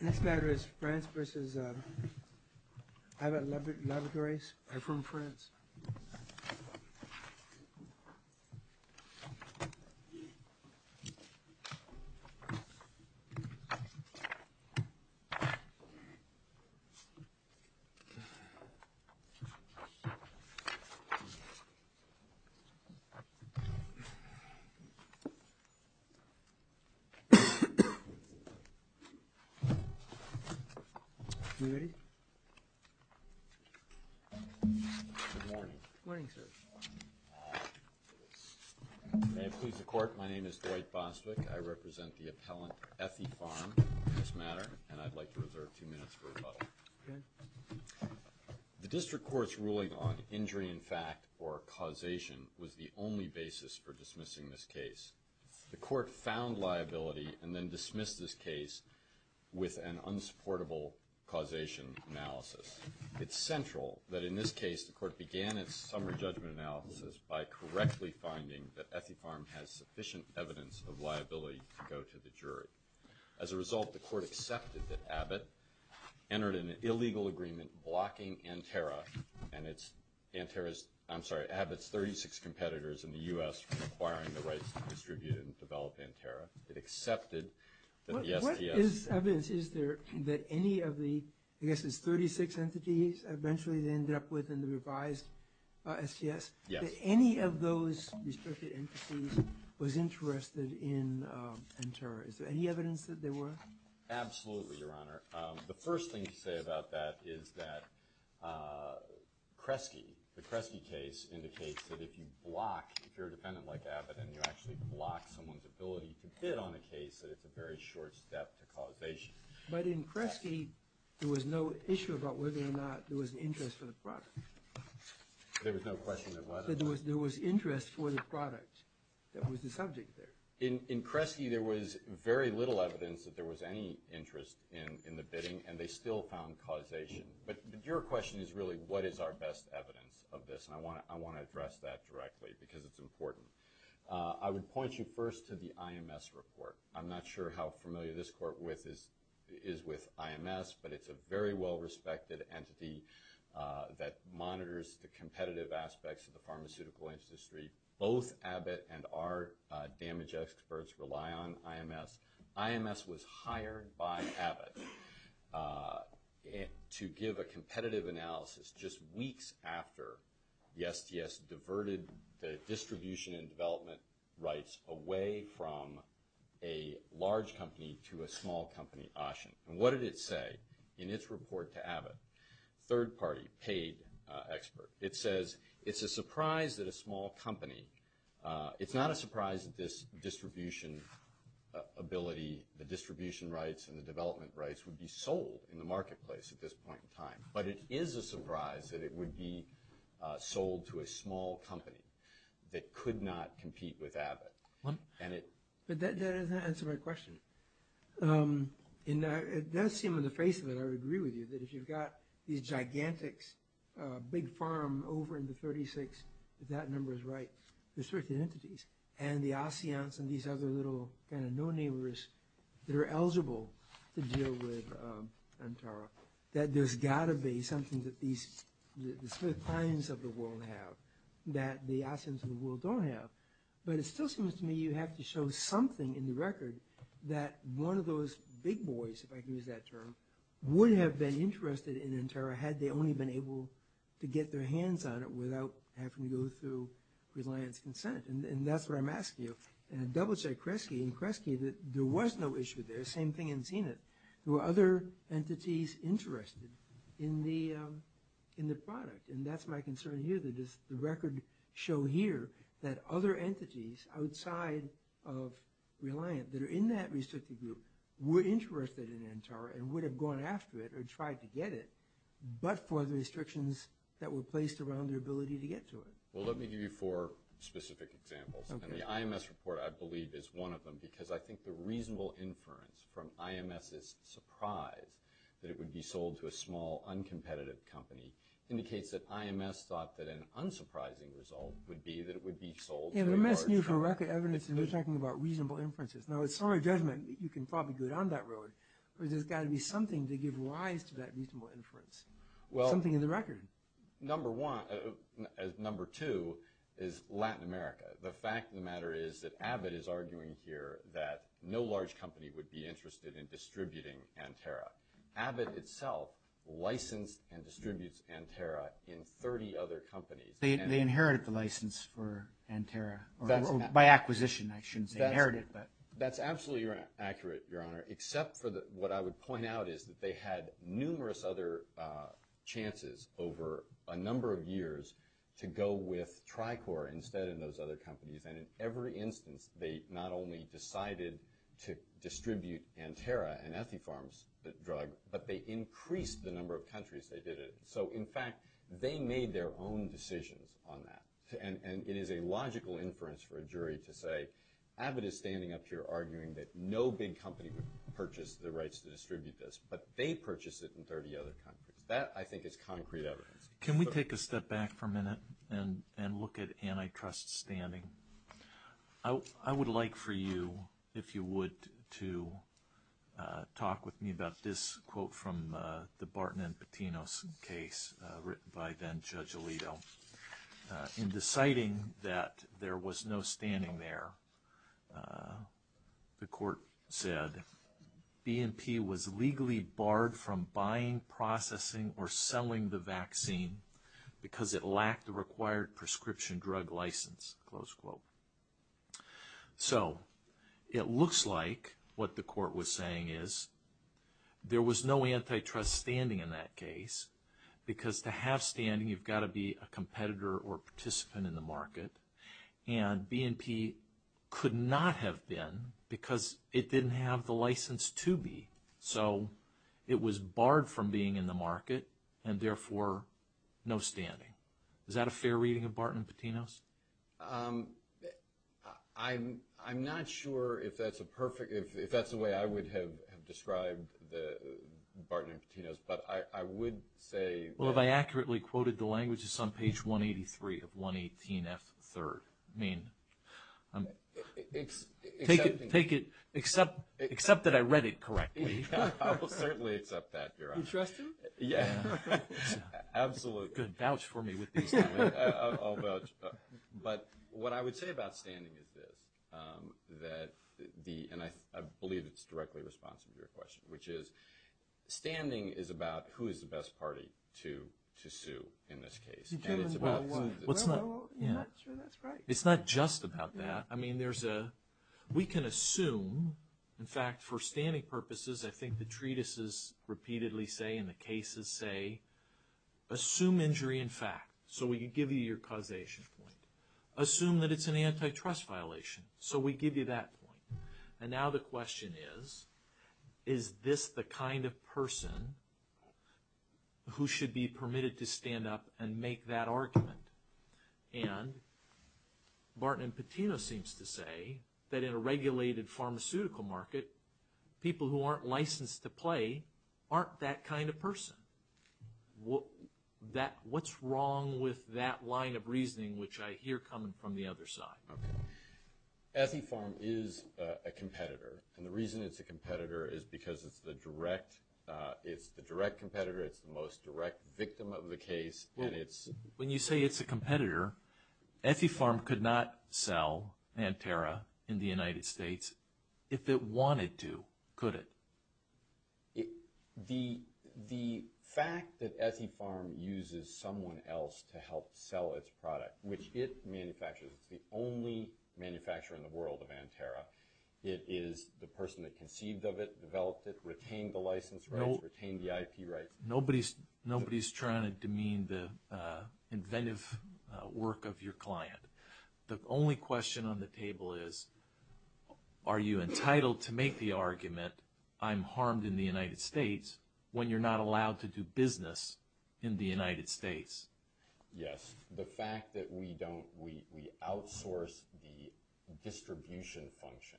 This letter is France v. Abbott Laboratories. I'm from France. The District Court's ruling on injury in fact or causation was the only basis for the court to dismiss this case with an unsupportable causation analysis. It's central that in this case the court began its summary judgment analysis by correctly finding that Ethypharm has sufficient evidence of liability to go to the jury. As a result, the court accepted that Abbott entered an illegal agreement blocking Anterra and its – Anterra's – I'm sorry, Abbott's 36 competitors in the U.S. from acquiring the rights to distribute and accepted the STS. What is evidence? Is there that any of the – I guess it's 36 entities eventually they ended up with in the revised STS? Yes. That any of those restricted entities was interested in Anterra? Is there any evidence that there were? Absolutely, Your Honor. The first thing to say about that is that Kresge, the Kresge case, indicates that if you block – if you're a defendant like Abbott and you actually block someone's ability to bid on a case, that it's a very short step to causation. But in Kresge, there was no issue about whether or not there was an interest for the product. There was no question of whether or not – That there was interest for the product that was the subject there. In Kresge, there was very little evidence that there was any interest in the bidding and they still found causation. But your question is really what is our best evidence of this, and I want to address that directly because it's important. I would point you first to the IMS report. I'm not sure how familiar this Court is with IMS, but it's a very well-respected entity that monitors the competitive aspects of the pharmaceutical industry. Both Abbott and our damage experts rely on IMS. IMS was hired by Abbott to give a competitive analysis just weeks after the STS diverted the distribution and development rights away from a large company to a small company, Oshin. And what did it say in its report to Abbott? Third-party paid expert. It says it's a surprise that a small company – it's not a surprise that this distribution ability, the distribution rights and the development rights would be sold in the marketplace at this point in time, but it is a surprise that it would be sold to a small company that could not compete with Abbott. But that doesn't answer my question. It does seem on the face of it, I would agree with you, that if you've got these gigantics, big pharma over in the 36, if that number is right, restricted entities, and the ASEANs and these other little kind of no-neighbors that are eligible to deal with Antara, that there's got to be something that these – the Smith clients of the world have that the ASEANs of the world don't have. But it still seems to me you have to show something in the record that one of those big boys, if I can use that term, would have been interested in Antara had they only been able to get their hands on it without having to go through reliance consent. And that's what I'm asking you. And double-check Kresge. In Kresge, there was no issue there. Same thing in Zenit. There were other entities interested in the product. And that's my concern here, that the record show here that other entities outside of reliance that are in that restricted group were interested in Antara and would have gone after it or tried to get it, but for the restrictions that were placed around their ability to get to it. Well, let me give you four specific examples. And the IMS report, I believe, is one of them because I think the reasonable inference from IMS's surprise that it would be sold to a small, uncompetitive company indicates that IMS thought that an unsurprising result would be that it would be sold to a large company. Yeah, but IMS knew for record evidence, and they're talking about reasonable inferences. Now, it's not a judgment. You can probably go down that road. But there's got to be something to give rise to that reasonable inference, something in the record. Number two is Latin America. The fact of the matter is that Abbott is arguing here that no large company would be interested in distributing Antara. Abbott itself licensed and distributes Antara in 30 other companies. They inherited the license for Antara, or by acquisition, I shouldn't say inherited. That's absolutely accurate, Your Honor, except for what I would point out is that they had a number of years to go with Tricor instead in those other companies. And in every instance, they not only decided to distribute Antara, an antipharm drug, but they increased the number of countries they did it in. So, in fact, they made their own decisions on that. And it is a logical inference for a jury to say Abbott is standing up here arguing that no big company would purchase the rights to distribute this, but they purchased it in 30 other countries. That, I think, is concrete evidence. Can we take a step back for a minute and look at antitrust standing? I would like for you, if you would, to talk with me about this quote from the Barton and Patinos case written by then-Judge Alito. In deciding that there was no standing there, the court said, BNP was legally barred from buying, processing, or selling the vaccine because it lacked the required prescription drug license, close quote. So, it looks like what the court was saying is there was no antitrust standing in that case because to have standing, you've got to be a competitor or participant in the market. And BNP could not have been because it didn't have the license to be. So, it was barred from being in the market and therefore no standing. Is that a fair reading of Barton and Patinos? I'm not sure if that's a way I would have described the Barton and Patinos, but I would say that... Well, if I accurately quoted the language, it's on page 183 of 118F3. Except that I read it correctly. I will certainly accept that, Your Honor. You trust him? Yeah, absolutely. Good, vouch for me with these things. I'll vouch. But what I would say about standing is this, and I believe it's directly responsive to your question, which is standing is about who is the best party to sue in this case. Well, I'm not sure that's right. It's not just about that. I mean, we can assume, in fact, for standing purposes, I think the treatises repeatedly say and the cases say, assume injury in fact, so we can give you your causation point. Assume that it's an antitrust violation, so we give you that point. And now the question is, is this the kind of person who should be permitted to stand up and make that argument? And Barton and Patino seems to say that in a regulated pharmaceutical market, people who aren't licensed to play aren't that kind of person. What's wrong with that line of reasoning, which I hear coming from the other side? Okay. Ethifarm is a competitor, and the reason it's a competitor is because it's the direct competitor, it's the most direct victim of the case. When you say it's a competitor, Ethifarm could not sell Anterra in the United States if it wanted to, could it? The fact that Ethifarm uses someone else to help sell its product, which it manufactures, it's the only manufacturer in the world of Anterra, it is the person that conceived of it, developed it, retained the license rights, retained the IP rights. Nobody's trying to demean the inventive work of your client. The only question on the table is, are you entitled to make the argument, I'm harmed in the United States, when you're not allowed to do business in the United States? Yes. The fact that we outsource the distribution function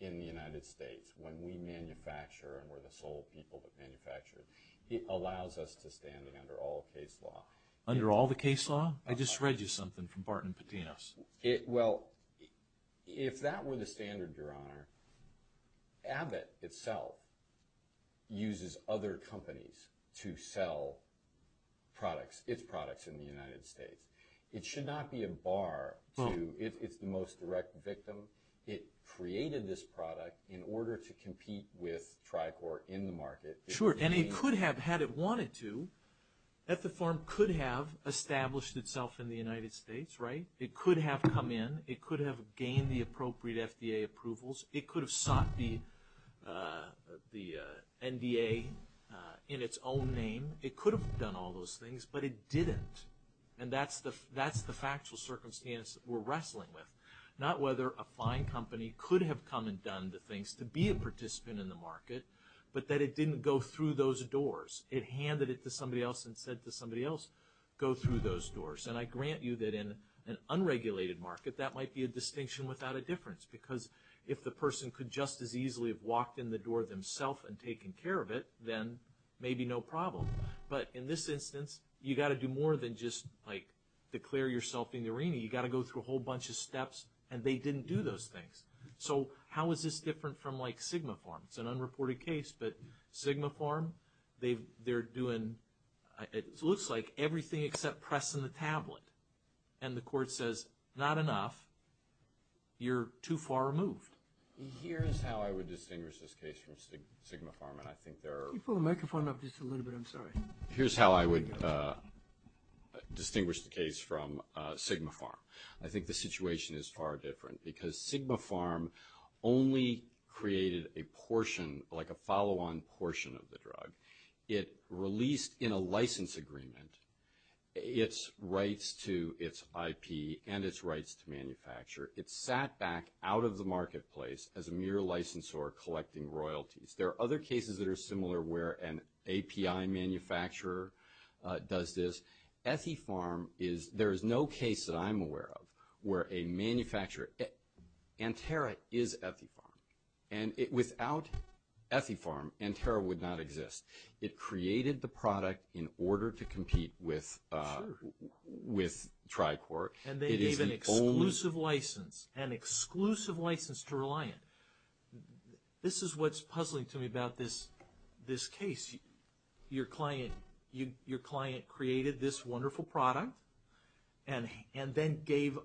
in the United States, when we manufacture and we're the sole people that manufacture, it allows us to stand under all case law. Under all the case law? I just read you something from Barton and Patinos. Well, if that were the standard, your honor, Abbott itself uses other companies to sell products, its products in the United States. It should not be a bar to, it's the most direct victim. It created this product in order to compete with Tricor in the market. Sure, and it could have had it wanted to. Ethifarm could have established itself in the United States, right? It could have come in, it could have gained the appropriate FDA approvals, it could have sought the NDA in its own name. It could have done all those things, but it didn't. And that's the factual circumstance that we're wrestling with. Not whether a fine company could have come and done the things to be a participant in the market, but that it didn't go through those doors. It handed it to somebody else and said to somebody else, go through those doors. And I grant you that in an unregulated market, that might be a distinction without a difference. Because if the person could just as easily have walked in the door themselves and taken care of it, then maybe no problem. But in this instance, you've got to do more than just declare yourself in the arena. You've got to go through a whole bunch of steps, and they didn't do those things. So how is this different from like SigmaFarm? It's an unreported case, but SigmaFarm, they're doing, it looks like everything except pressing the tablet. And the court says, not enough. You're too far removed. Here's how I would distinguish this case from SigmaFarm, and I think there are... Can you pull the microphone up just a little bit? I'm sorry. Here's how I would distinguish the case from SigmaFarm. I think the situation is far different, because SigmaFarm only created a portion, like a follow-on portion of the drug. It released in a license agreement its rights to its IP and its rights to manufacture. It sat back out of the marketplace as a mere licensor collecting royalties. There are other cases that are similar where an API manufacturer does this. Ethifarm is... There is no case that I'm aware of where a manufacturer... Anterra is Ethifarm, and without Ethifarm, Anterra would not exist. It created the product in order to compete with Tricor. And they gave an exclusive license, an exclusive license to Reliant. This is what's puzzling to me about this case. Your client created this wonderful product, and then gave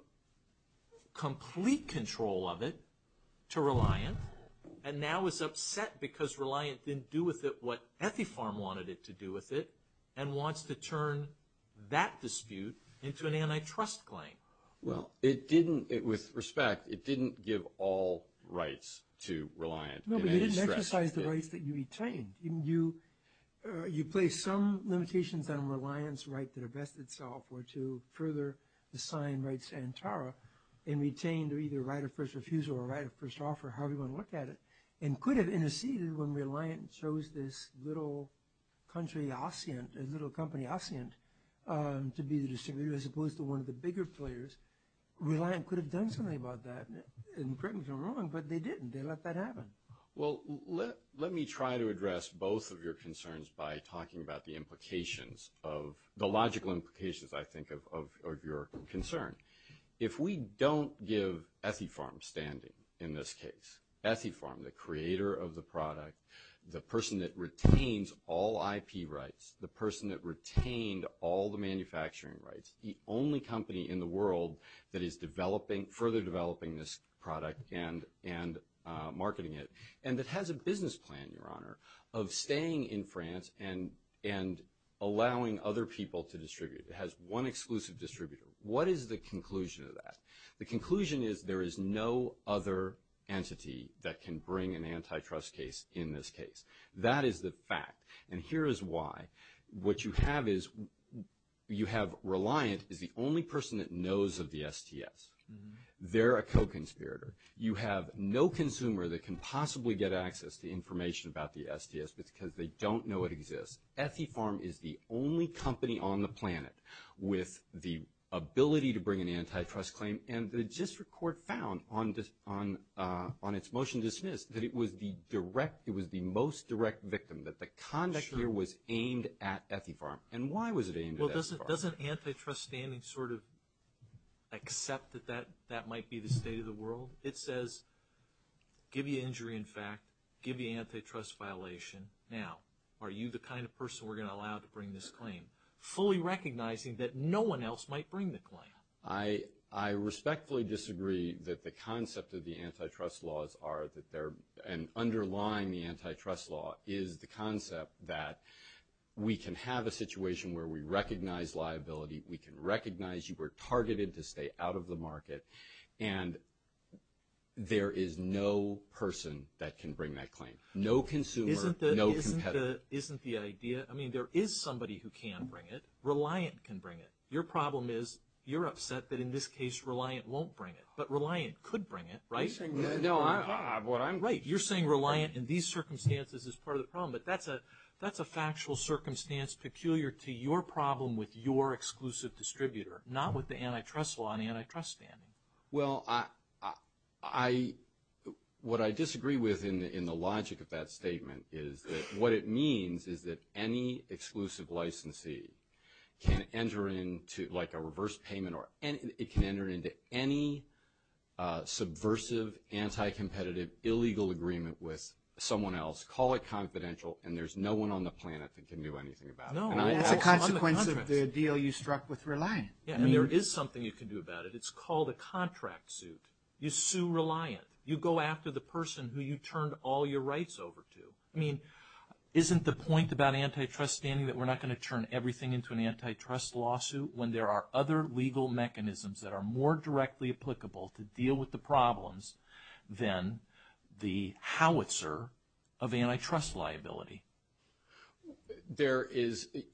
complete control of it to Reliant, and now is upset because Reliant didn't do with it what Ethifarm wanted it to do with it, and wants to turn that dispute into an antitrust claim. Well, it didn't... With respect, it didn't give all rights to Reliant. No, but you didn't exercise the rights that you retained. You placed some limitations on Reliant's right to divest itself or to further assign rights to Anterra and retain their either right of first refusal or right of first offer, however you want to look at it, and could have interceded when Reliant chose this little country, ASEANT, a little company, ASEANT, to be the distributor as opposed to one of the bigger players. Reliant could have done something about that and correct me if I'm wrong, but they didn't. They let that happen. Well, let me try to address both of your concerns by talking about the implications of... the logical implications, I think, of your concern. If we don't give Ethifarm standing in this case, Ethifarm, the creator of the product, the person that retains all IP rights, the person that retained all the manufacturing rights, the only company in the world that is further developing this product and marketing it, and that has a business plan, Your Honor, of staying in France and allowing other people to distribute. It has one exclusive distributor. What is the conclusion of that? The conclusion is there is no other entity that can bring an antitrust case in this case. That is the fact, and here is why. What you have is you have Reliant is the only person that knows of the STS. They're a co-conspirator. You have no consumer that can possibly get access to information about the STS because they don't know it exists. Ethifarm is the only company on the planet with the ability to bring an antitrust claim, and the district court found on its motion to dismiss that it was the most direct victim, that the conduct here was aimed at Ethifarm. And why was it aimed at Ethifarm? Well, doesn't antitrust standing sort of accept that that might be the state of the world? It says, give you injury in fact, give you antitrust violation. Now, are you the kind of person we're going to allow to bring this claim, fully recognizing that no one else might bring the claim? I respectfully disagree that the concept of the antitrust laws are, and underlying the antitrust law is the concept that we can have a situation where we recognize liability, we can recognize you were targeted to stay out of the market, and there is no person that can bring that claim. No consumer, no competitor. Isn't the idea, I mean, there is somebody who can bring it. Reliant can bring it. Your problem is, you're upset that in this case Reliant won't bring it, but Reliant could bring it, right? No, I'm... Right, you're saying Reliant in these circumstances is part of the problem, but that's a factual circumstance peculiar to your problem with your exclusive distributor, not with the antitrust law and antitrust standing. Well, what I disagree with in the logic of that statement is that what it means is that any exclusive licensee can enter into like a reverse payment or it can enter into any subversive, anti-competitive, illegal agreement with someone else, call it confidential, and there's no one on the planet that can do anything about it. No, that's a consequence of the deal you struck with Reliant. Yeah, and there is something you can do about it. It's called a contract suit. You sue Reliant. You go after the person who you turned all your rights over to. I mean, isn't the point about antitrust standing that we're not going to turn everything into an antitrust lawsuit when there are other legal mechanisms that are more directly applicable to deal with the problems than the howitzer of antitrust liability?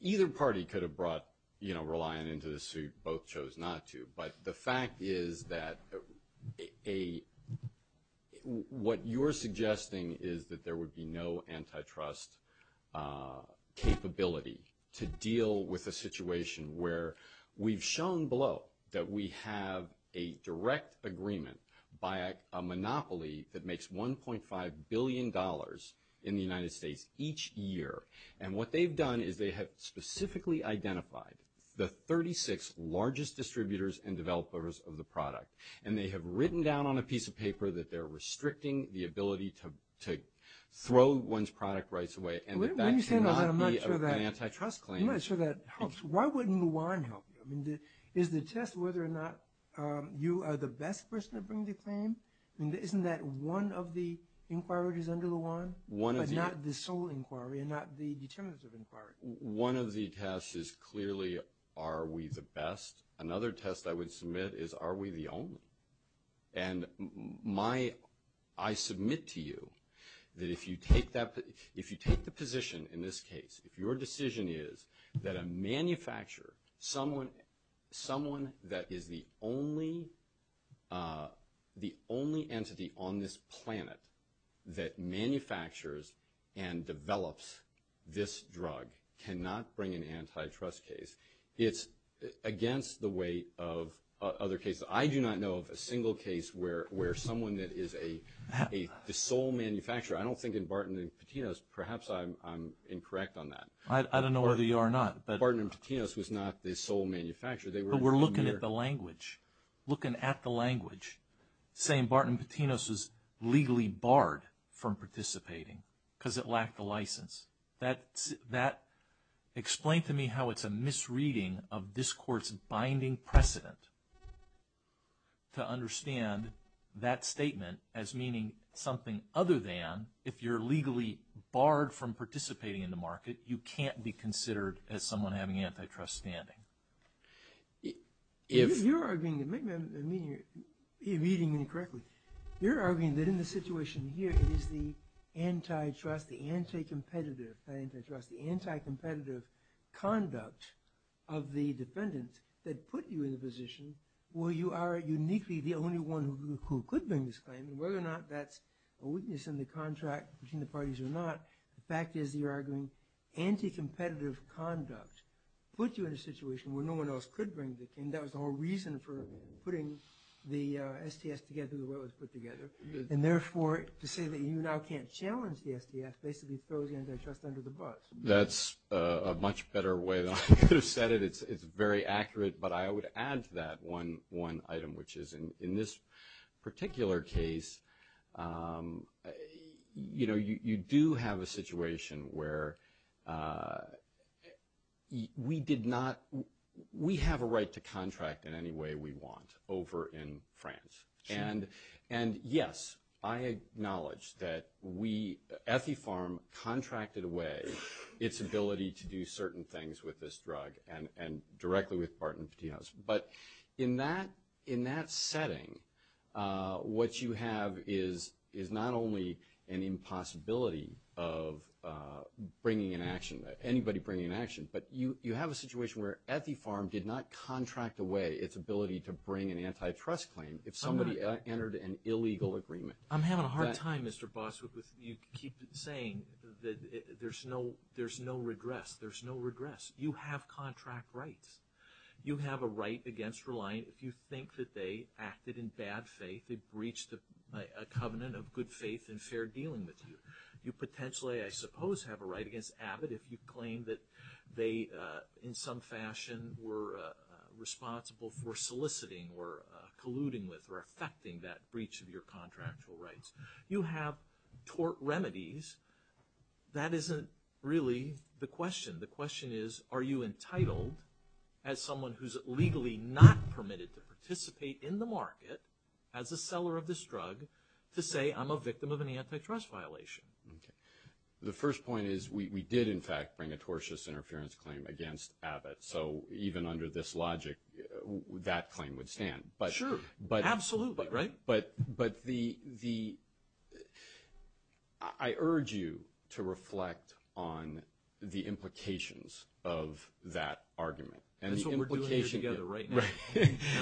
Either party could have brought Reliant into the suit. Both chose not to. But the fact is that what you're suggesting is that there would be no antitrust capability to deal with a situation where we've shown below that we have a direct agreement by a monopoly that makes $1.5 billion in the United States each year. And what they've done is they have specifically identified the 36 largest distributors and developers of the product. And they have written down on a piece of paper that they're restricting the ability to throw one's product rights away and that that cannot be an antitrust claim. I'm not sure that helps. Why wouldn't Luan help? I mean, is the test whether or not you are the best person to bring the claim? I mean, isn't that one of the inquiries under Luan? But not the sole inquiry and not the determinative inquiry. One of the tests is clearly are we the best. Another test I would submit is are we the only. And I submit to you that if you take the position in this case, if your decision is that a manufacturer, someone that is the only entity on this planet that manufactures and develops this drug cannot bring an antitrust case, it's against the weight of other cases. I do not know of a single case where someone that is the sole manufacturer, I don't think in Barton and Patinos, perhaps I'm incorrect on that. I don't know whether you are or not. Barton and Patinos was not the sole manufacturer. But we're looking at the language, looking at the language, saying Barton and Patinos was legally barred from participating because it lacked a license. Explain to me how it's a misreading of this Court's binding precedent to understand that statement as meaning something other than if you're legally barred from participating in the market, that you can't be considered as someone having antitrust standing. If... You're arguing, maybe I'm reading you incorrectly. You're arguing that in the situation here, it is the antitrust, the anticompetitive, the antitrust, the anticompetitive conduct of the defendant that put you in the position where you are uniquely the only one who could bring this claim. And whether or not that's a weakness in the contract between the parties or not, the fact is you're arguing anticompetitive conduct put you in a situation where no one else could bring the claim. That was the whole reason for putting the STS together the way it was put together. And therefore, to say that you now can't challenge the STS basically throws antitrust under the bus. That's a much better way than I could have said it. It's very accurate. But I would add to that one item, which is in this particular case, you know, you do have a situation where we did not... We have a right to contract in any way we want over in France. And yes, I acknowledge that we... Ethifarm contracted away its ability to do certain things with this drug and directly with Barton Petit House. But in that setting, what you have is not only an impossibility of bringing an action, anybody bringing an action, but you have a situation where Ethifarm did not contract away its ability to bring an antitrust claim if somebody entered an illegal agreement. I'm having a hard time, Mr. Boss, with you keep saying that there's no regress. There's no regress. You have contract rights. You have a right against relying... If you think that they acted in bad faith, they breached a covenant of good faith and fair dealing with you. You potentially, I suppose, have a right against Abbott if you claim that they, in some fashion, were responsible for soliciting or colluding with or affecting that breach of your contractual rights. You have tort remedies. That isn't really the question. The question is, are you entitled, as someone who's legally not permitted to participate in the market, as a seller of this drug, to say, I'm a victim of an antitrust violation? The first point is we did, in fact, bring a tortious interference claim against Abbott. So even under this logic, that claim would stand. Sure. Absolutely, right? But the ‑‑ I urge you to reflect on the implications of that argument. That's what we're doing here together right now.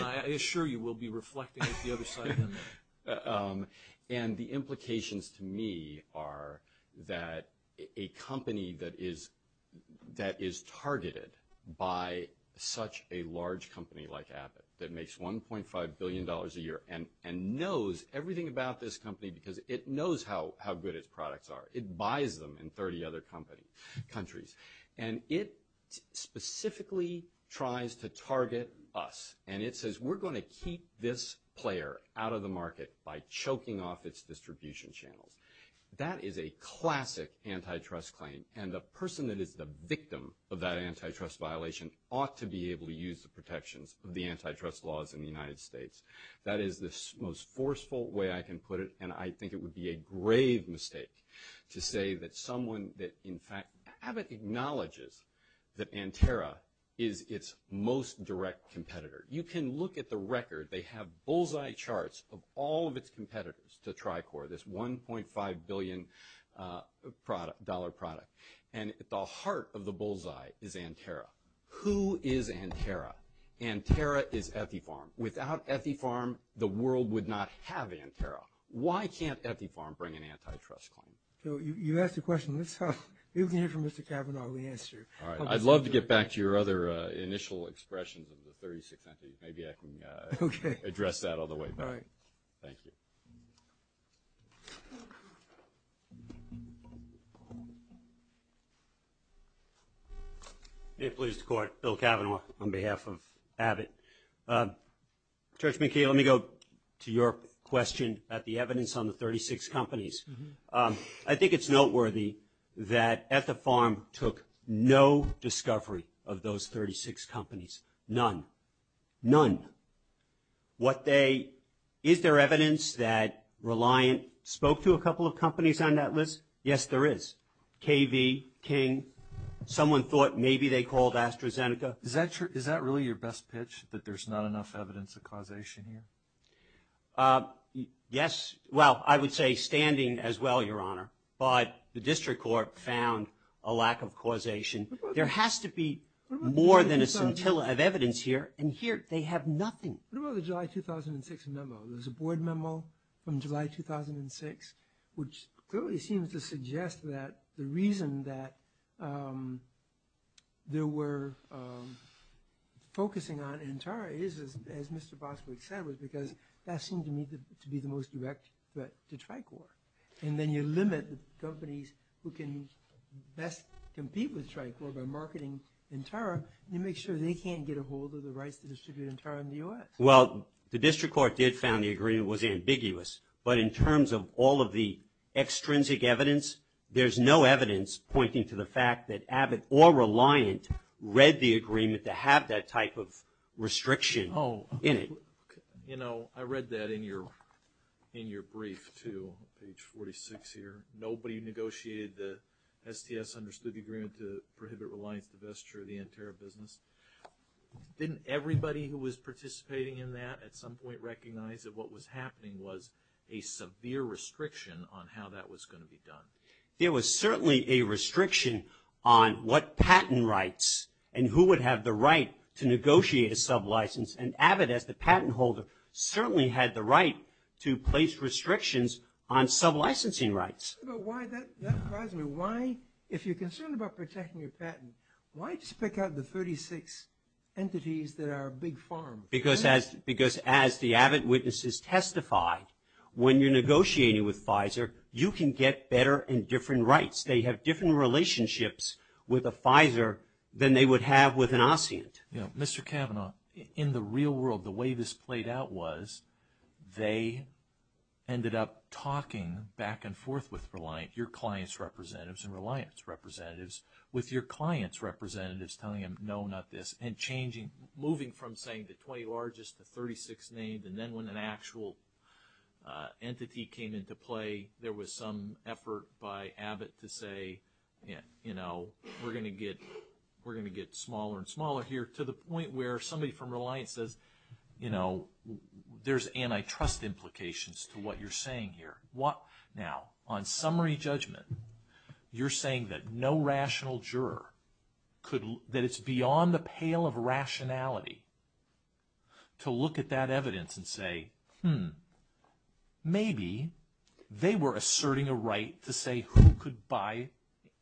I assure you we'll be reflecting at the other side of the room. And the implications to me are that a company that is targeted by such a large company like Abbott that makes $1.5 billion a year and knows everything about this company because it knows how good its products are, it buys them in 30 other countries, and it specifically tries to target us, and it says we're going to keep this player out of the market by choking off its distribution channels. That is a classic antitrust claim, and the person that is the victim of that antitrust violation ought to be able to use the protections of the antitrust laws in the United States. That is the most forceful way I can put it, and I think it would be a grave mistake to say that someone that, in fact, Abbott acknowledges that Anterra is its most direct competitor. You can look at the record. They have bullseye charts of all of its competitors to Tricor, this $1.5 billion product. And at the heart of the bullseye is Anterra. Who is Anterra? Anterra is Ethifarm. Without Ethifarm, the world would not have Anterra. Why can't Ethifarm bring an antitrust claim? So you asked a question. Let's hear from Mr. Kavanaugh and we'll answer. All right. I'd love to get back to your other initial expressions of the 36 entities. Maybe I can address that all the way back. All right. Thank you. May it please the Court. Bill Kavanaugh on behalf of Abbott. Judge McKee, let me go to your question about the evidence on the 36 companies. I think it's noteworthy that Ethifarm took no discovery of those 36 companies. None. None. Is there evidence that Reliant spoke to a couple of companies on that list? Yes, there is. KV, King. Someone thought maybe they called AstraZeneca. Is that really your best pitch, that there's not enough evidence of causation here? Yes. Well, I would say standing as well, Your Honor. But the District Court found a lack of causation. There has to be more than a scintilla of evidence here. And here they have nothing. What about the July 2006 memo? There's a board memo from July 2006, which clearly seems to suggest that the reason that they were focusing on Antara is, as Mr. Boswick said, was because that seemed to me to be the most direct threat to Tricor. And then you limit the companies who can best compete with Tricor by marketing Antara. You make sure they can't get a hold of the rights to distribute Antara in the U.S. Well, the District Court did found the agreement was ambiguous. But in terms of all of the extrinsic evidence, there's no evidence pointing to the fact that Abbott or Reliant read the agreement to have that type of restriction in it. You know, I read that in your brief too, page 46 here. Nobody negotiated the STS understood the agreement to prohibit Reliant's divestiture of the Antara business. Didn't everybody who was participating in that at some point recognize that what was happening was a severe restriction on how that was going to be done? There was certainly a restriction on what patent rights and who would have the right to negotiate a sublicense. And Abbott, as the patent holder, certainly had the right to place restrictions on sublicensing rights. But why that? If you're concerned about protecting your patent, why just pick out the 36 entities that are a big farm? Because as the Abbott witnesses testified, when you're negotiating with Pfizer, you can get better and different rights. They have different relationships with a Pfizer than they would have with an Assyrian. You know, Mr. Kavanaugh, in the real world, the way this played out was they ended up talking back and forth with Reliant, your client's representatives and Reliant's representatives, with your client's representatives telling them no, not this, and changing, moving from saying the 20 largest to 36 named. And then when an actual entity came into play, there was some effort by Abbott to say, you know, we're going to get smaller and smaller here, to the point where somebody from Reliant says, you know, there's antitrust implications to what you're saying here. Now, on summary judgment, you're saying that no rational juror could, that it's beyond the pale of rationality to look at that evidence and say, maybe they were asserting a right to say who could buy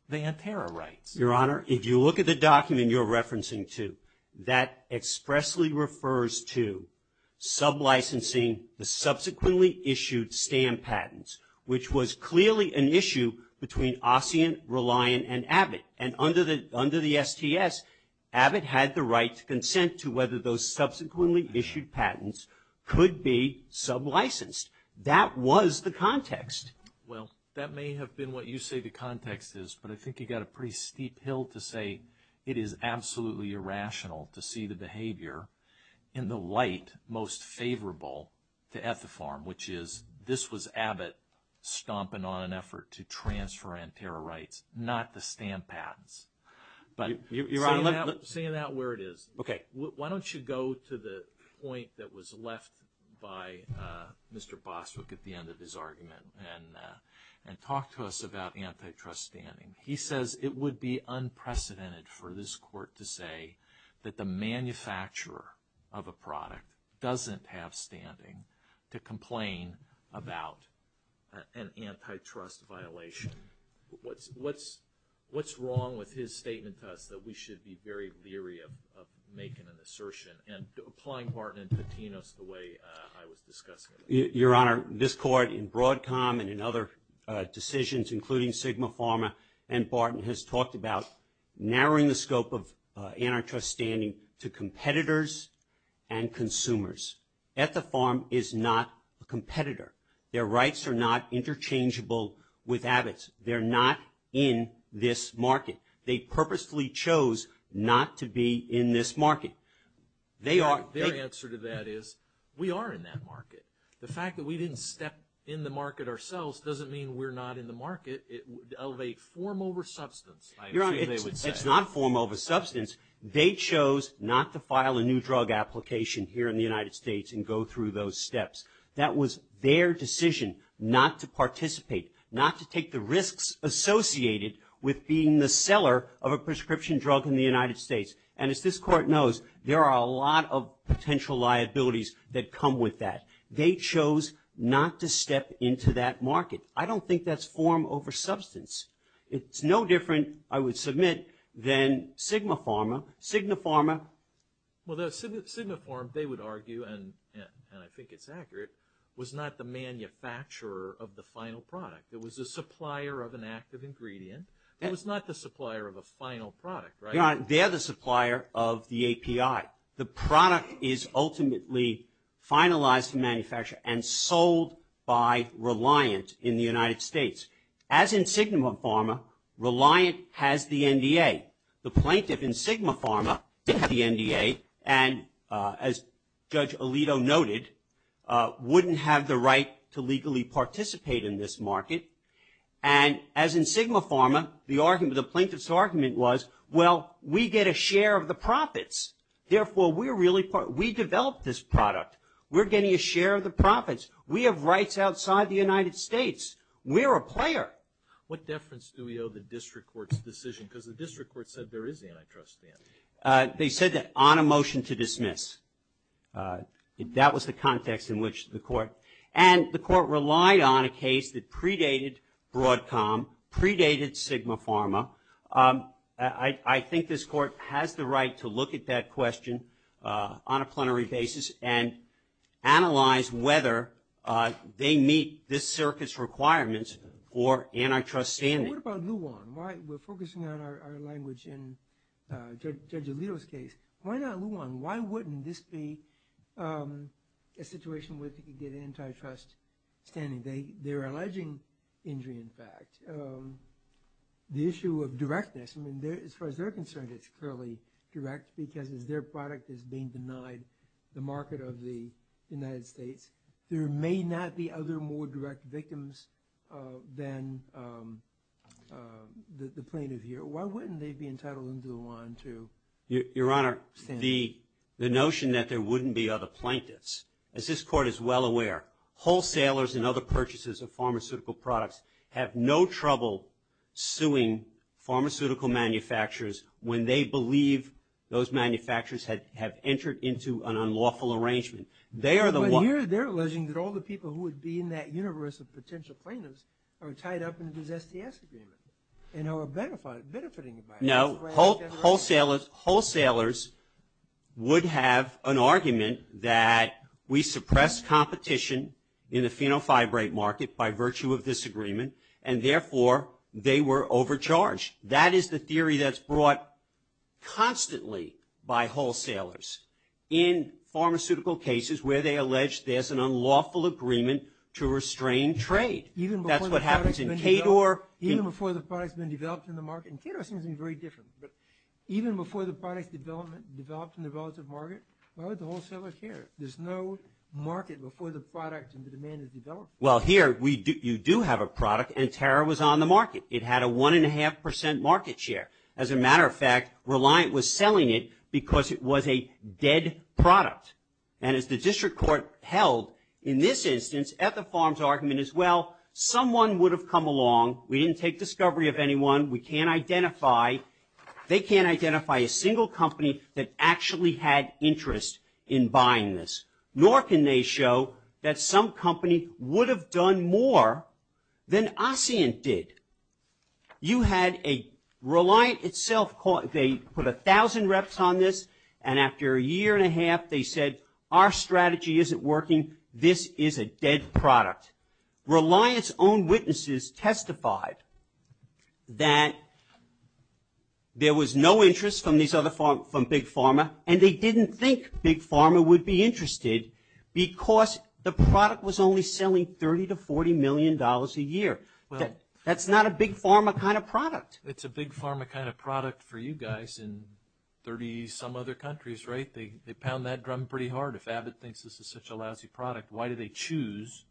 the Anterra rights. Your Honor, if you look at the document you're referencing to, that expressly refers to sub-licensing the subsequently issued stamp patents, which was clearly an issue between Assyrian, Reliant, and Abbott. And under the STS, Abbott had the right to consent to whether those would be sub-licensed. That was the context. Well, that may have been what you say the context is, but I think you've got a pretty steep hill to say it is absolutely irrational to see the behavior in the light most favorable to Ethifarm, which is this was Abbott stomping on an effort to transfer Anterra rights, not the stamp patents. Seeing that where it is, Okay, why don't you go to the point that was left by Mr. Boswick at the end of his argument and talk to us about antitrust standing. He says it would be unprecedented for this court to say that the manufacturer of a product doesn't have standing to complain about an antitrust violation. What's wrong with his statement to us that we should be very leery of making an assertion and applying Barton and Patinos the way I was discussing it? Your Honor, this court in Broadcom and in other decisions, including Sigma Pharma and Barton, has talked about narrowing the scope of antitrust standing to competitors and consumers. Ethifarm is not a competitor. Their rights are not interchangeable with Abbott's. They're not in this market. They purposefully chose not to be in this market. Their answer to that is we are in that market. The fact that we didn't step in the market ourselves doesn't mean we're not in the market of a form over substance. Your Honor, it's not a form over substance. They chose not to file a new drug application here in the United States and go through those steps. That was their decision not to participate, not to take the risks associated with being the seller of a prescription drug in the United States. And as this court knows, there are a lot of potential liabilities that come with that. They chose not to step into that market. I don't think that's form over substance. It's no different, I would submit, than Sigma Pharma. Sigma Pharma... was not the manufacturer of the final product. It was the supplier of an active ingredient. It was not the supplier of a final product, right? Your Honor, they're the supplier of the API. The product is ultimately finalized for manufacture and sold by Reliant in the United States. As in Sigma Pharma, Reliant has the NDA. The plaintiff in Sigma Pharma did have the NDA and, as Judge Alito noted, wouldn't have the right to legally participate in this market. And as in Sigma Pharma, the plaintiff's argument was, well, we get a share of the profits. Therefore, we develop this product. We're getting a share of the profits. We have rights outside the United States. We're a player. What deference do we owe the district court's decision? Because the district court said there is antitrust there. They said that on a motion to dismiss. That was the context in which the court... and the court relied on a case that predated Broadcom, predated Sigma Pharma. I think this court has the right to look at that question on a plenary basis and analyze whether they meet this circuit's requirements for antitrust standing. What about Luan? We're focusing on our language in Judge Alito's case. Why not Luan? Why wouldn't this be a situation where they could get antitrust standing? They're alleging injury, in fact. The issue of directness, as far as they're concerned, it's clearly direct because as their product is being denied the market of the United States, there may not be other more direct victims than the plaintiff here. Why wouldn't they be entitled under Luan to stand? Your Honor, the notion that there wouldn't be other plaintiffs, as this court is well aware, wholesalers and other purchasers of pharmaceutical products have no trouble suing pharmaceutical manufacturers when they believe those manufacturers have entered into an unlawful arrangement. They're alleging that all the people who would be in that universe of potential plaintiffs are tied up in this STS agreement and are benefiting by it. No, wholesalers would have an argument that we suppress competition in the phenofibrate market by virtue of this agreement and therefore they were overcharged. That is the theory that's brought constantly by wholesalers in pharmaceutical cases where they allege there's an unlawful agreement to restrain trade. That's what happens in KDOR. Even before the product's been developed in the market, and KDOR seems to be very different, but even before the product's developed in the relative market, why would the wholesaler care? There's no market before the product and the demand is developed. Well, here you do have a product and Tara was on the market. It had a 1.5% market share. As a matter of fact, Reliant was selling it because it was a dead product. And as the district court held in this instance at the Farms Argument as well, someone would have come along. We didn't take discovery of anyone. We can't identify... They can't identify a single company that actually had interest in buying this. Nor can they show that some company would have done more than ASEAN did. You had a... Reliant itself put 1,000 reps on this and after a year and a half they said, our strategy isn't working. This is a dead product. Reliant's own witnesses testified that there was no interest from Big Pharma and they didn't think Big Pharma would be interested because the product was only selling $30 to $40 million a year. That's not a Big Pharma kind of product. It's a Big Pharma kind of product for you guys in 30-some other countries, right? They pound that drum pretty hard. If Abbott thinks this is such a lousy product, why do they choose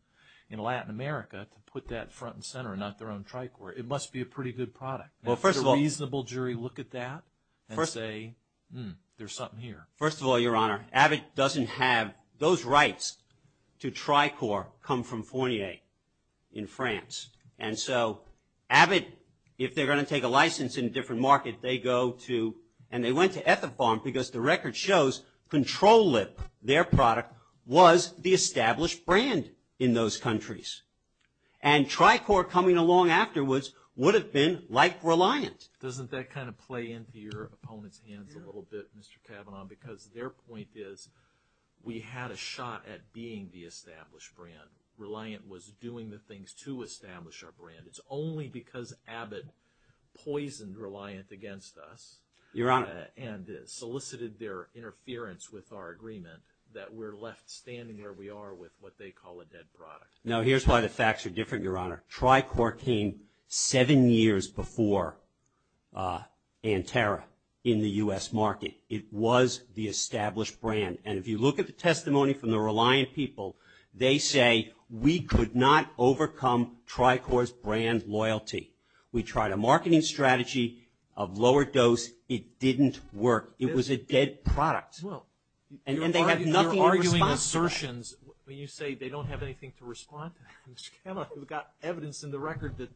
in Latin America to put that front and center and not their own Tricor? It must be a pretty good product. Does a reasonable jury look at that and say, hmm, there's something here? First of all, Your Honor, Abbott doesn't have... Those rights to Tricor come from Fournier in France. And so Abbott, if they're going to take a license in a different market, they go to... And they went to Ethafarm because the record shows Control Lip, their product, was the established brand in those countries. And Tricor coming along afterwards would have been like Reliant. Doesn't that kind of play into your opponent's hands a little bit, Mr. Cavanaugh, because their point is we had a shot at being the established brand. Reliant was doing the things to establish our brand. It's only because Abbott poisoned Reliant against us... Your Honor. ...and solicited their interference with our agreement that we're left standing where we are with what they call a dead product. Now, here's why the facts are different, Your Honor. Tricor came seven years before Anterra in the U.S. market. It was the established brand. And if you look at the testimony from the Reliant people, they say we could not overcome Tricor's brand loyalty. We tried a marketing strategy of lower dose. It didn't work. It was a dead product. And they have nothing to respond to that. You're arguing assertions when you say they don't have anything to respond to that. Mr. Cavanaugh, we've got evidence in the record that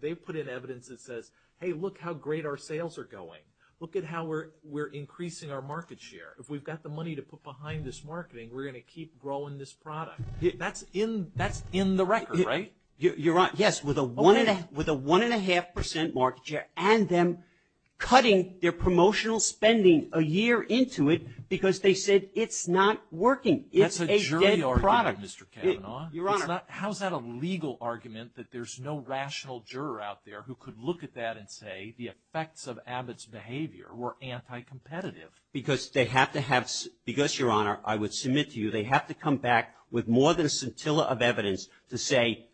they've put in evidence that says, hey, look how great our sales are going. If we've got the money to put behind this marketing, we're going to keep growing this product. That's in the record, right? You're right. Yes, with a one and a half percent market share and them cutting their promotional spending a year into it because they said it's not working. It's a dead product. That's a jury argument, Mr. Cavanaugh. Your Honor. How is that a legal argument that there's no rational juror out there who could look at that and say the effects of Abbott's behavior were anti-competitive? Because they have to have... They have to come back with more than a scintilla of evidence to say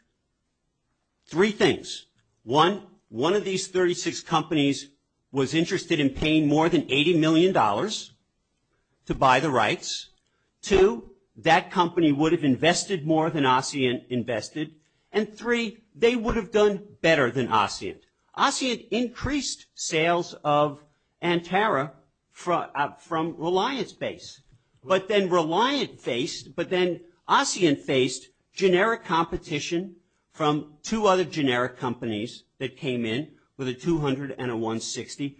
three things. One, one of these 36 companies was interested in paying more than $80 million to buy the rights. Two, that company would have invested more than ASEAN invested. And three, they would have done better than ASEAN. ASEAN increased sales of Antara from reliance base. But then reliance based, but then ASEAN based, generic competition from two other generic companies that came in with a 200 and a 160.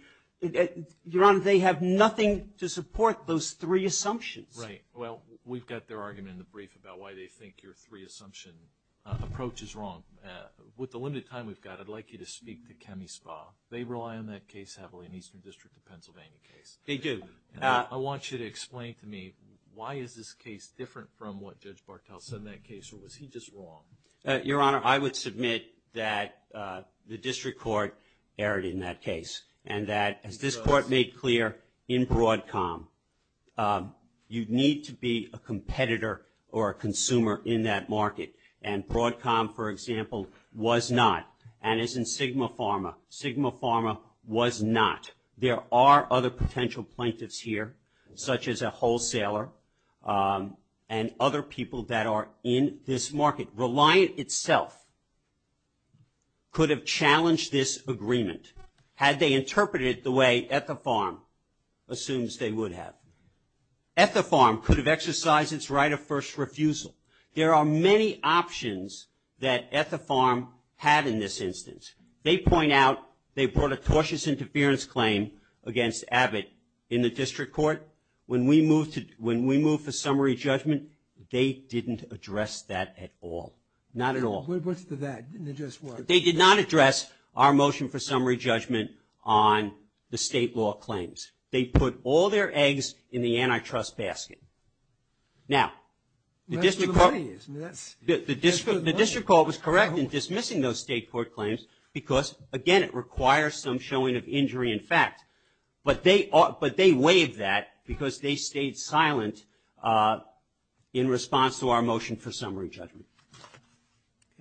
Your Honor, they have nothing to support those three assumptions. Right. Well, we've got their argument in the brief about why they think your three assumption approach is wrong. With the limited time we've got, I'd like you to speak to Chemispa. They rely on that case heavily in the Eastern District of Pennsylvania case. They do. I want you to explain to me, why is this case different from what Judge Barthel said in that case, or was he just wrong? Your Honor, I would submit that the District Court erred in that case and that, as this Court made clear in Broadcom, you need to be a competitor or a consumer in that market. And Broadcom, for example, was not. And as in Sigma Pharma, Sigma Pharma was not. There are other potential plaintiffs here, such as a wholesaler and other people that are in this market. Reliant itself could have challenged this agreement, had they interpreted it the way Etherpharm assumes they would have. Etherpharm could have exercised its right of first refusal. There are many options that Etherpharm had in this instance. They point out they brought a tortious interference claim against Abbott in the District Court. When we moved to summary judgment, they didn't address that at all. Not at all. What's the that? They didn't address what? They did not address our motion for summary judgment on the state law claims. They put all their eggs in the antitrust basket. Now, the District Court was correct in dismissing those state court claims, because, again, it requires some showing of injury in fact. But they waived that because they stayed silent in response to our motion for summary judgment.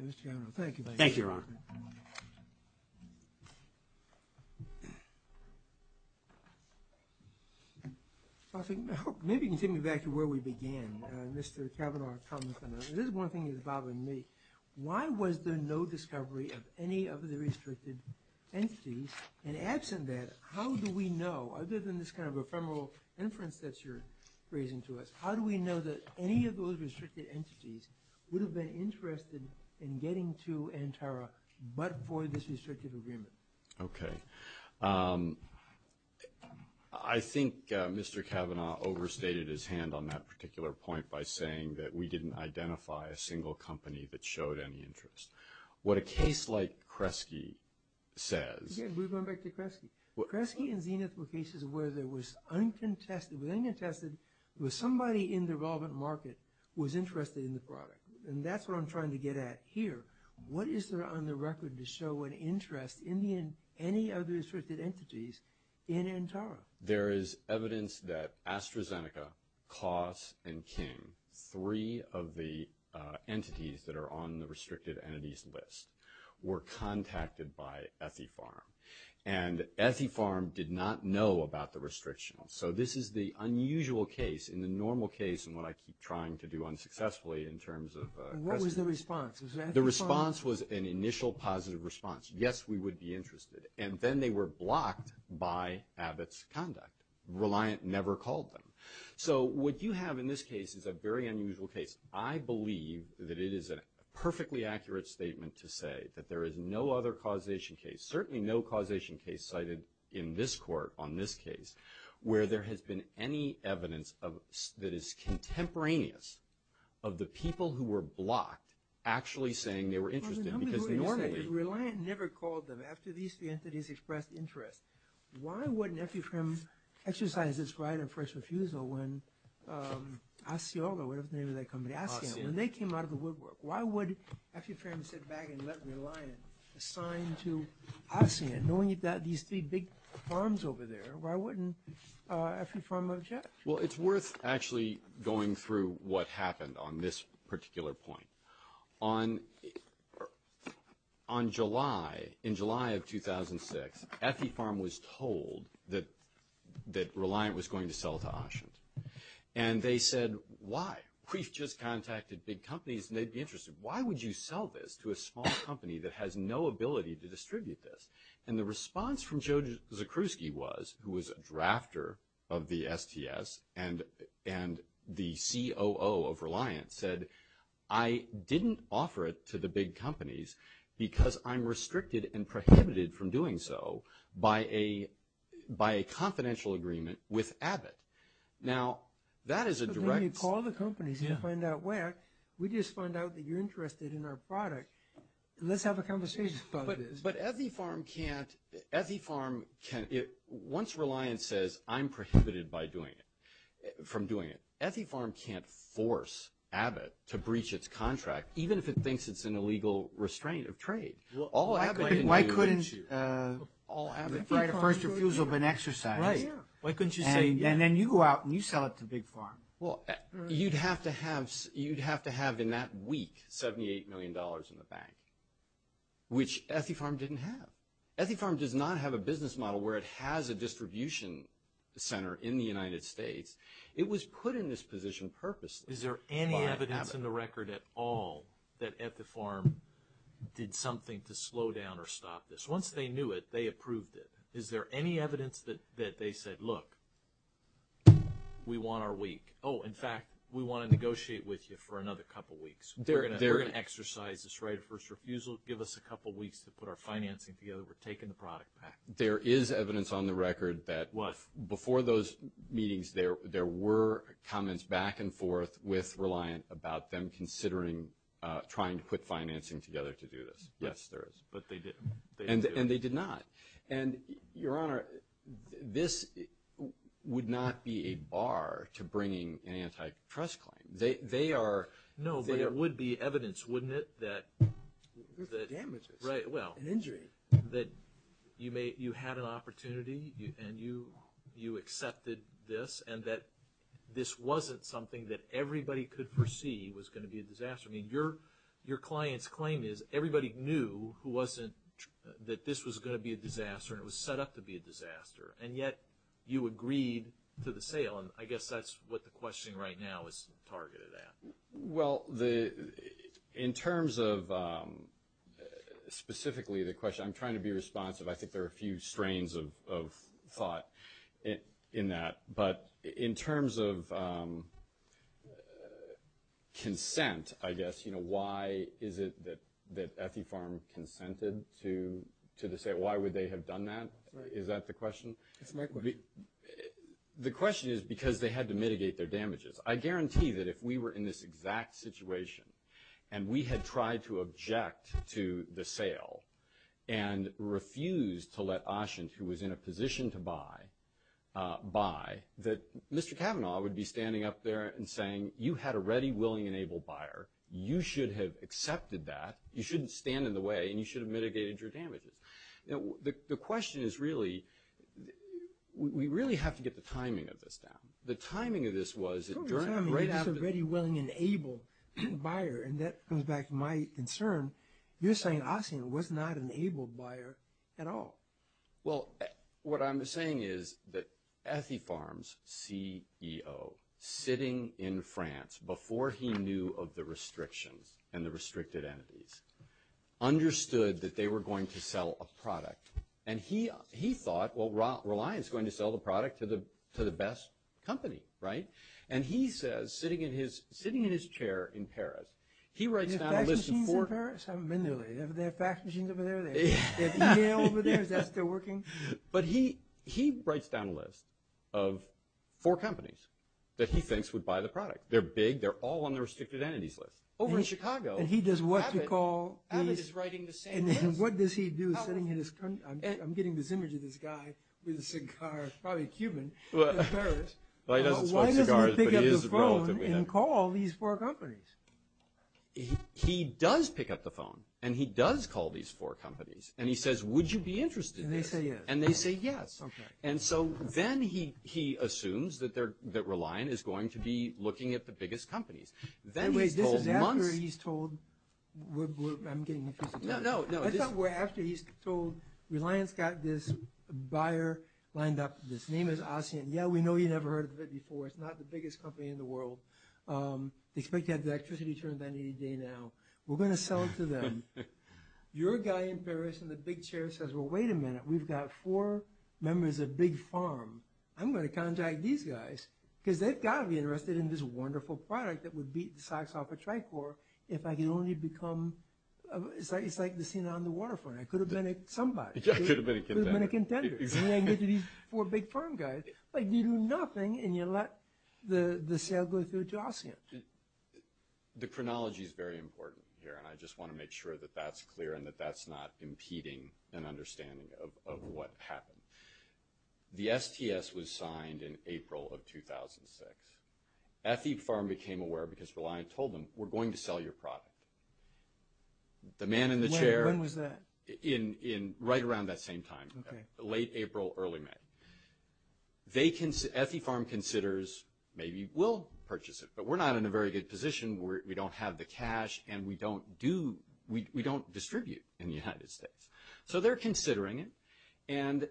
Mr. Cavanaugh, thank you. Thank you, Your Honor. Maybe you can take me back to where we began, Mr. Cavanaugh. This is one thing that's bothering me. Why was there no discovery of any of the restricted entities? And absent that, how do we know, other than this kind of ephemeral inference that you're raising to us, how do we know that any of those restricted entities would have been interested in getting to Antara but for this restrictive agreement? Okay. I think Mr. Cavanaugh overstated his hand on that particular point by saying that we didn't identify a single company that showed any interest. What a case like Kresge says – Again, we're going back to Kresge. Kresge and Zenith were cases where there was uncontested, it was uncontested that somebody in the relevant market was interested in the product. And that's what I'm trying to get at here. What is there on the record to show an interest in any of the restricted entities in Antara? There is evidence that AstraZeneca, Klaus, and King, three of the entities that are on the restricted entities list, were contacted by Ethypharm. And Ethypharm did not know about the restriction. So this is the unusual case in the normal case and what I keep trying to do unsuccessfully in terms of Kresge. What was the response? The response was an initial positive response. Yes, we would be interested. And then they were blocked by Abbott's conduct. Reliant never called them. So what you have in this case is a very unusual case. I believe that it is a perfectly accurate statement to say that there is no other causation case, certainly no causation case cited in this court on this case, where there has been any evidence that is contemporaneous of the people who were blocked actually saying they were interested. Reliant never called them. After these three entities expressed interest, why wouldn't Ethypharm exercise its right of first refusal when ASEOLA, whatever the name of that company, ASEAN, when they came out of the woodwork, why would Ethypharm sit back and let Reliant assign to ASEAN, knowing that these three big farms over there, why wouldn't Ethypharm object? Well, it's worth actually going through what happened on this particular point. On July, in July of 2006, Ethypharm was told that Reliant was going to sell to ASEAN. And they said, why? We've just contacted big companies, and they'd be interested. Why would you sell this to a small company that has no ability to distribute this? And the response from Joe Zakruski was, who was a drafter of the STS, and the COO of Reliant said, I didn't offer it to the big companies because I'm restricted and prohibited from doing so by a confidential agreement with Abbott. Now, that is a direct – So then you call the companies and find out where. We just find out that you're interested in our product, and let's have a conversation about this. But Ethypharm can't – once Reliant says, I'm prohibited by doing it, from doing it, Ethypharm can't force Abbott to breach its contract, even if it thinks it's an illegal restraint of trade. Why couldn't the right of first refusal have been exercised, and then you go out and you sell it to Big Pharma? Well, you'd have to have in that week $78 million in the bank, which Ethypharm didn't have. Ethypharm does not have a business model where it has a distribution center in the United States. It was put in this position purposely by Abbott. Is there any evidence in the record at all that Ethypharm did something to slow down or stop this? Once they knew it, they approved it. Is there any evidence that they said, look, we want our week? Oh, in fact, we want to negotiate with you for another couple weeks. We're going to exercise this right of first refusal. Those will give us a couple weeks to put our financing together. We're taking the product back. There is evidence on the record that before those meetings, there were comments back and forth with Reliant about them considering trying to put financing together to do this. Yes, there is. But they didn't. And they did not. And, Your Honor, this would not be a bar to bringing an antitrust claim. No, but it would be evidence, wouldn't it, that you had an opportunity and you accepted this and that this wasn't something that everybody could foresee was going to be a disaster. Your client's claim is everybody knew that this was going to be a disaster and it was set up to be a disaster, and yet you agreed to the sale. I guess that's what the question right now is targeted at. Well, in terms of specifically the question, I'm trying to be responsive. I think there are a few strains of thought in that. But in terms of consent, I guess, you know, why is it that Ethifarm consented to the sale? Why would they have done that? Is that the question? The question is because they had to mitigate their damages. I guarantee that if we were in this exact situation and we had tried to object to the sale and refused to let Ashint, who was in a position to buy, buy, that Mr. Kavanaugh would be standing up there and saying, you had a ready, willing, and able buyer. You should have accepted that. You shouldn't stand in the way, and you should have mitigated your damages. The question is really, we really have to get the timing of this down. The timing of this was that during the right after the… You said ready, willing, and able buyer, and that comes back to my concern. You're saying Ashint was not an able buyer at all. Well, what I'm saying is that Ethifarm's CEO, sitting in France, before he knew of the restrictions and the restricted entities, understood that they were going to sell a product, and he thought, well, Reliance is going to sell the product to the best company, right? And he says, sitting in his chair in Paris, he writes down a list of four… Do they have fax machines in Paris? I haven't been there lately. Do they have fax machines over there? Do they have email over there? Is that still working? But he writes down a list of four companies that he thinks would buy the product. They're big. They're all on the restricted entities list. Over in Chicago, Abbott is writing the same list. And what does he do, sitting in his… I'm getting this image of this guy with a cigar, probably Cuban, in Paris. Well, he doesn't smoke cigars, but he is a relative. Why doesn't he pick up the phone and call these four companies? He does pick up the phone, and he does call these four companies, and he says, would you be interested in this? And they say yes. And they say yes. And so then he assumes that Reliance is going to be looking at the biggest companies. Anyways, this is after he's told… I'm getting confused. No, no. This is after he's told Reliance got this buyer lined up. His name is Asien. Yeah, we know you've never heard of it before. It's not the biggest company in the world. They expect to have the electricity turned on any day now. We're going to sell it to them. You're a guy in Paris, and the big chair says, well, wait a minute. We've got four members of Big Farm. I'm going to contact these guys, because they've got to be interested in this wonderful product that would beat the socks off a Tricor if I could only become… It's like the scene on the waterfront. I could have been somebody. I could have been a contender. I could have been a contender. And then I get to these four Big Farm guys. But you do nothing, and you let the sale go through to Asien. The chronology is very important here, and I just want to make sure that that's clear and that that's not impeding an understanding of what happened. The STS was signed in April of 2006. Effie Farm became aware because Reliant told them, we're going to sell your product. The man in the chair… When was that? Right around that same time, late April, early May. Effie Farm considers, maybe we'll purchase it, but we're not in a very good position. We don't have the cash, and we don't distribute in the United States. So they're considering it, and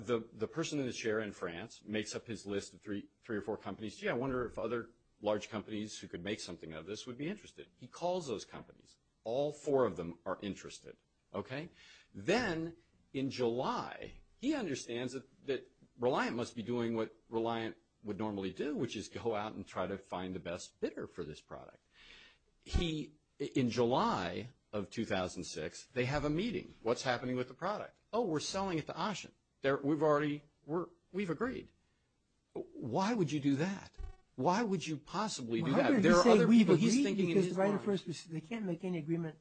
the person in the chair in France makes up his list of three or four companies. Gee, I wonder if other large companies who could make something of this would be interested. He calls those companies. All four of them are interested. Then in July, he understands that Reliant must be doing what Reliant would normally do, which is go out and try to find the best fitter for this product. He, in July of 2006, they have a meeting. What's happening with the product? Oh, we're selling it to Ashen. We've already, we've agreed. Why would you do that? Why would you possibly do that? Why would he say we've agreed? Because they can't make any agreement.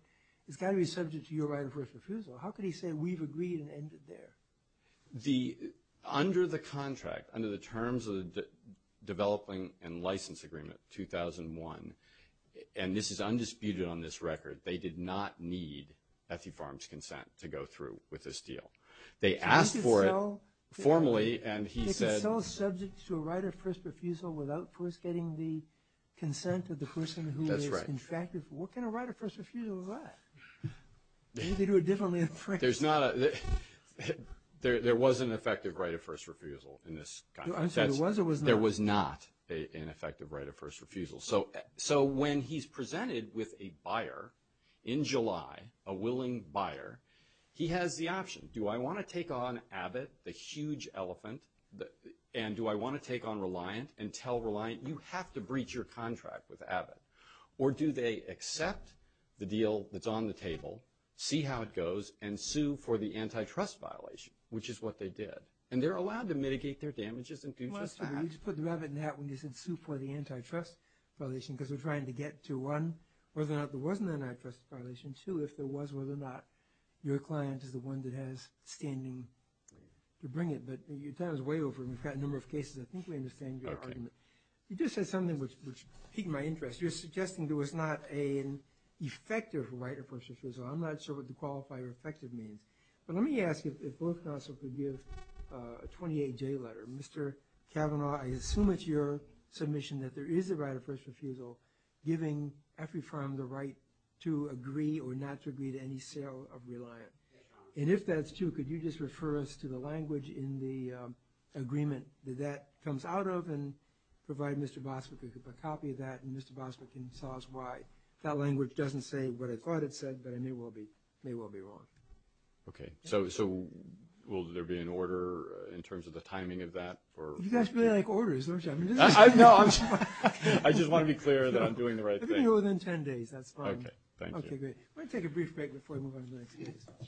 It's got to be subject to your right of first refusal. How could he say we've agreed and ended there? Under the contract, under the terms of the developing and license agreement, 2001, and this is undisputed on this record, they did not need Effie Farms' consent to go through with this deal. They asked for it formally, and he said- If it's all subject to a right of first refusal without first getting the consent of the person who is contracted, what kind of right of first refusal is that? Maybe they do it differently in France. There's not a, there was an effective right of first refusal in this contract. I'm sorry, there was or was not? There was not an effective right of first refusal. So when he's presented with a buyer in July, a willing buyer, he has the option, do I want to take on Abbott, the huge elephant, and do I want to take on Reliant and tell Reliant, you have to breach your contract with Abbott, or do they accept the deal that's on the table, see how it goes, and sue for the antitrust violation, which is what they did. And they're allowed to mitigate their damages and do just that. Let's put the rabbit in the hat when you said sue for the antitrust violation because we're trying to get to, one, whether or not there was an antitrust violation, two, if there was, whether or not your client is the one that has standing to bring it. But your time is way over, and we've got a number of cases. I think we understand your argument. You just said something which piqued my interest. You're suggesting there was not an effective right of first refusal. I'm not sure what the qualifier effective means. But let me ask if both counsel could give a 28-J letter. Mr. Kavanaugh, I assume it's your submission that there is a right of first refusal giving every firm the right to agree or not to agree to any sale of Reliant. And if that's true, could you just refer us to the language in the agreement that that comes out of and provide Mr. Boswick with a copy of that, and Mr. Boswick can tell us why. That language doesn't say what I thought it said, but I may well be wrong. Okay. So will there be an order in terms of the timing of that? You guys really like orders, don't you? No. I just want to be clear that I'm doing the right thing. It'll be within 10 days. That's fine. Okay. Thank you. Okay, great. We're going to take a brief break before we move on to the next case.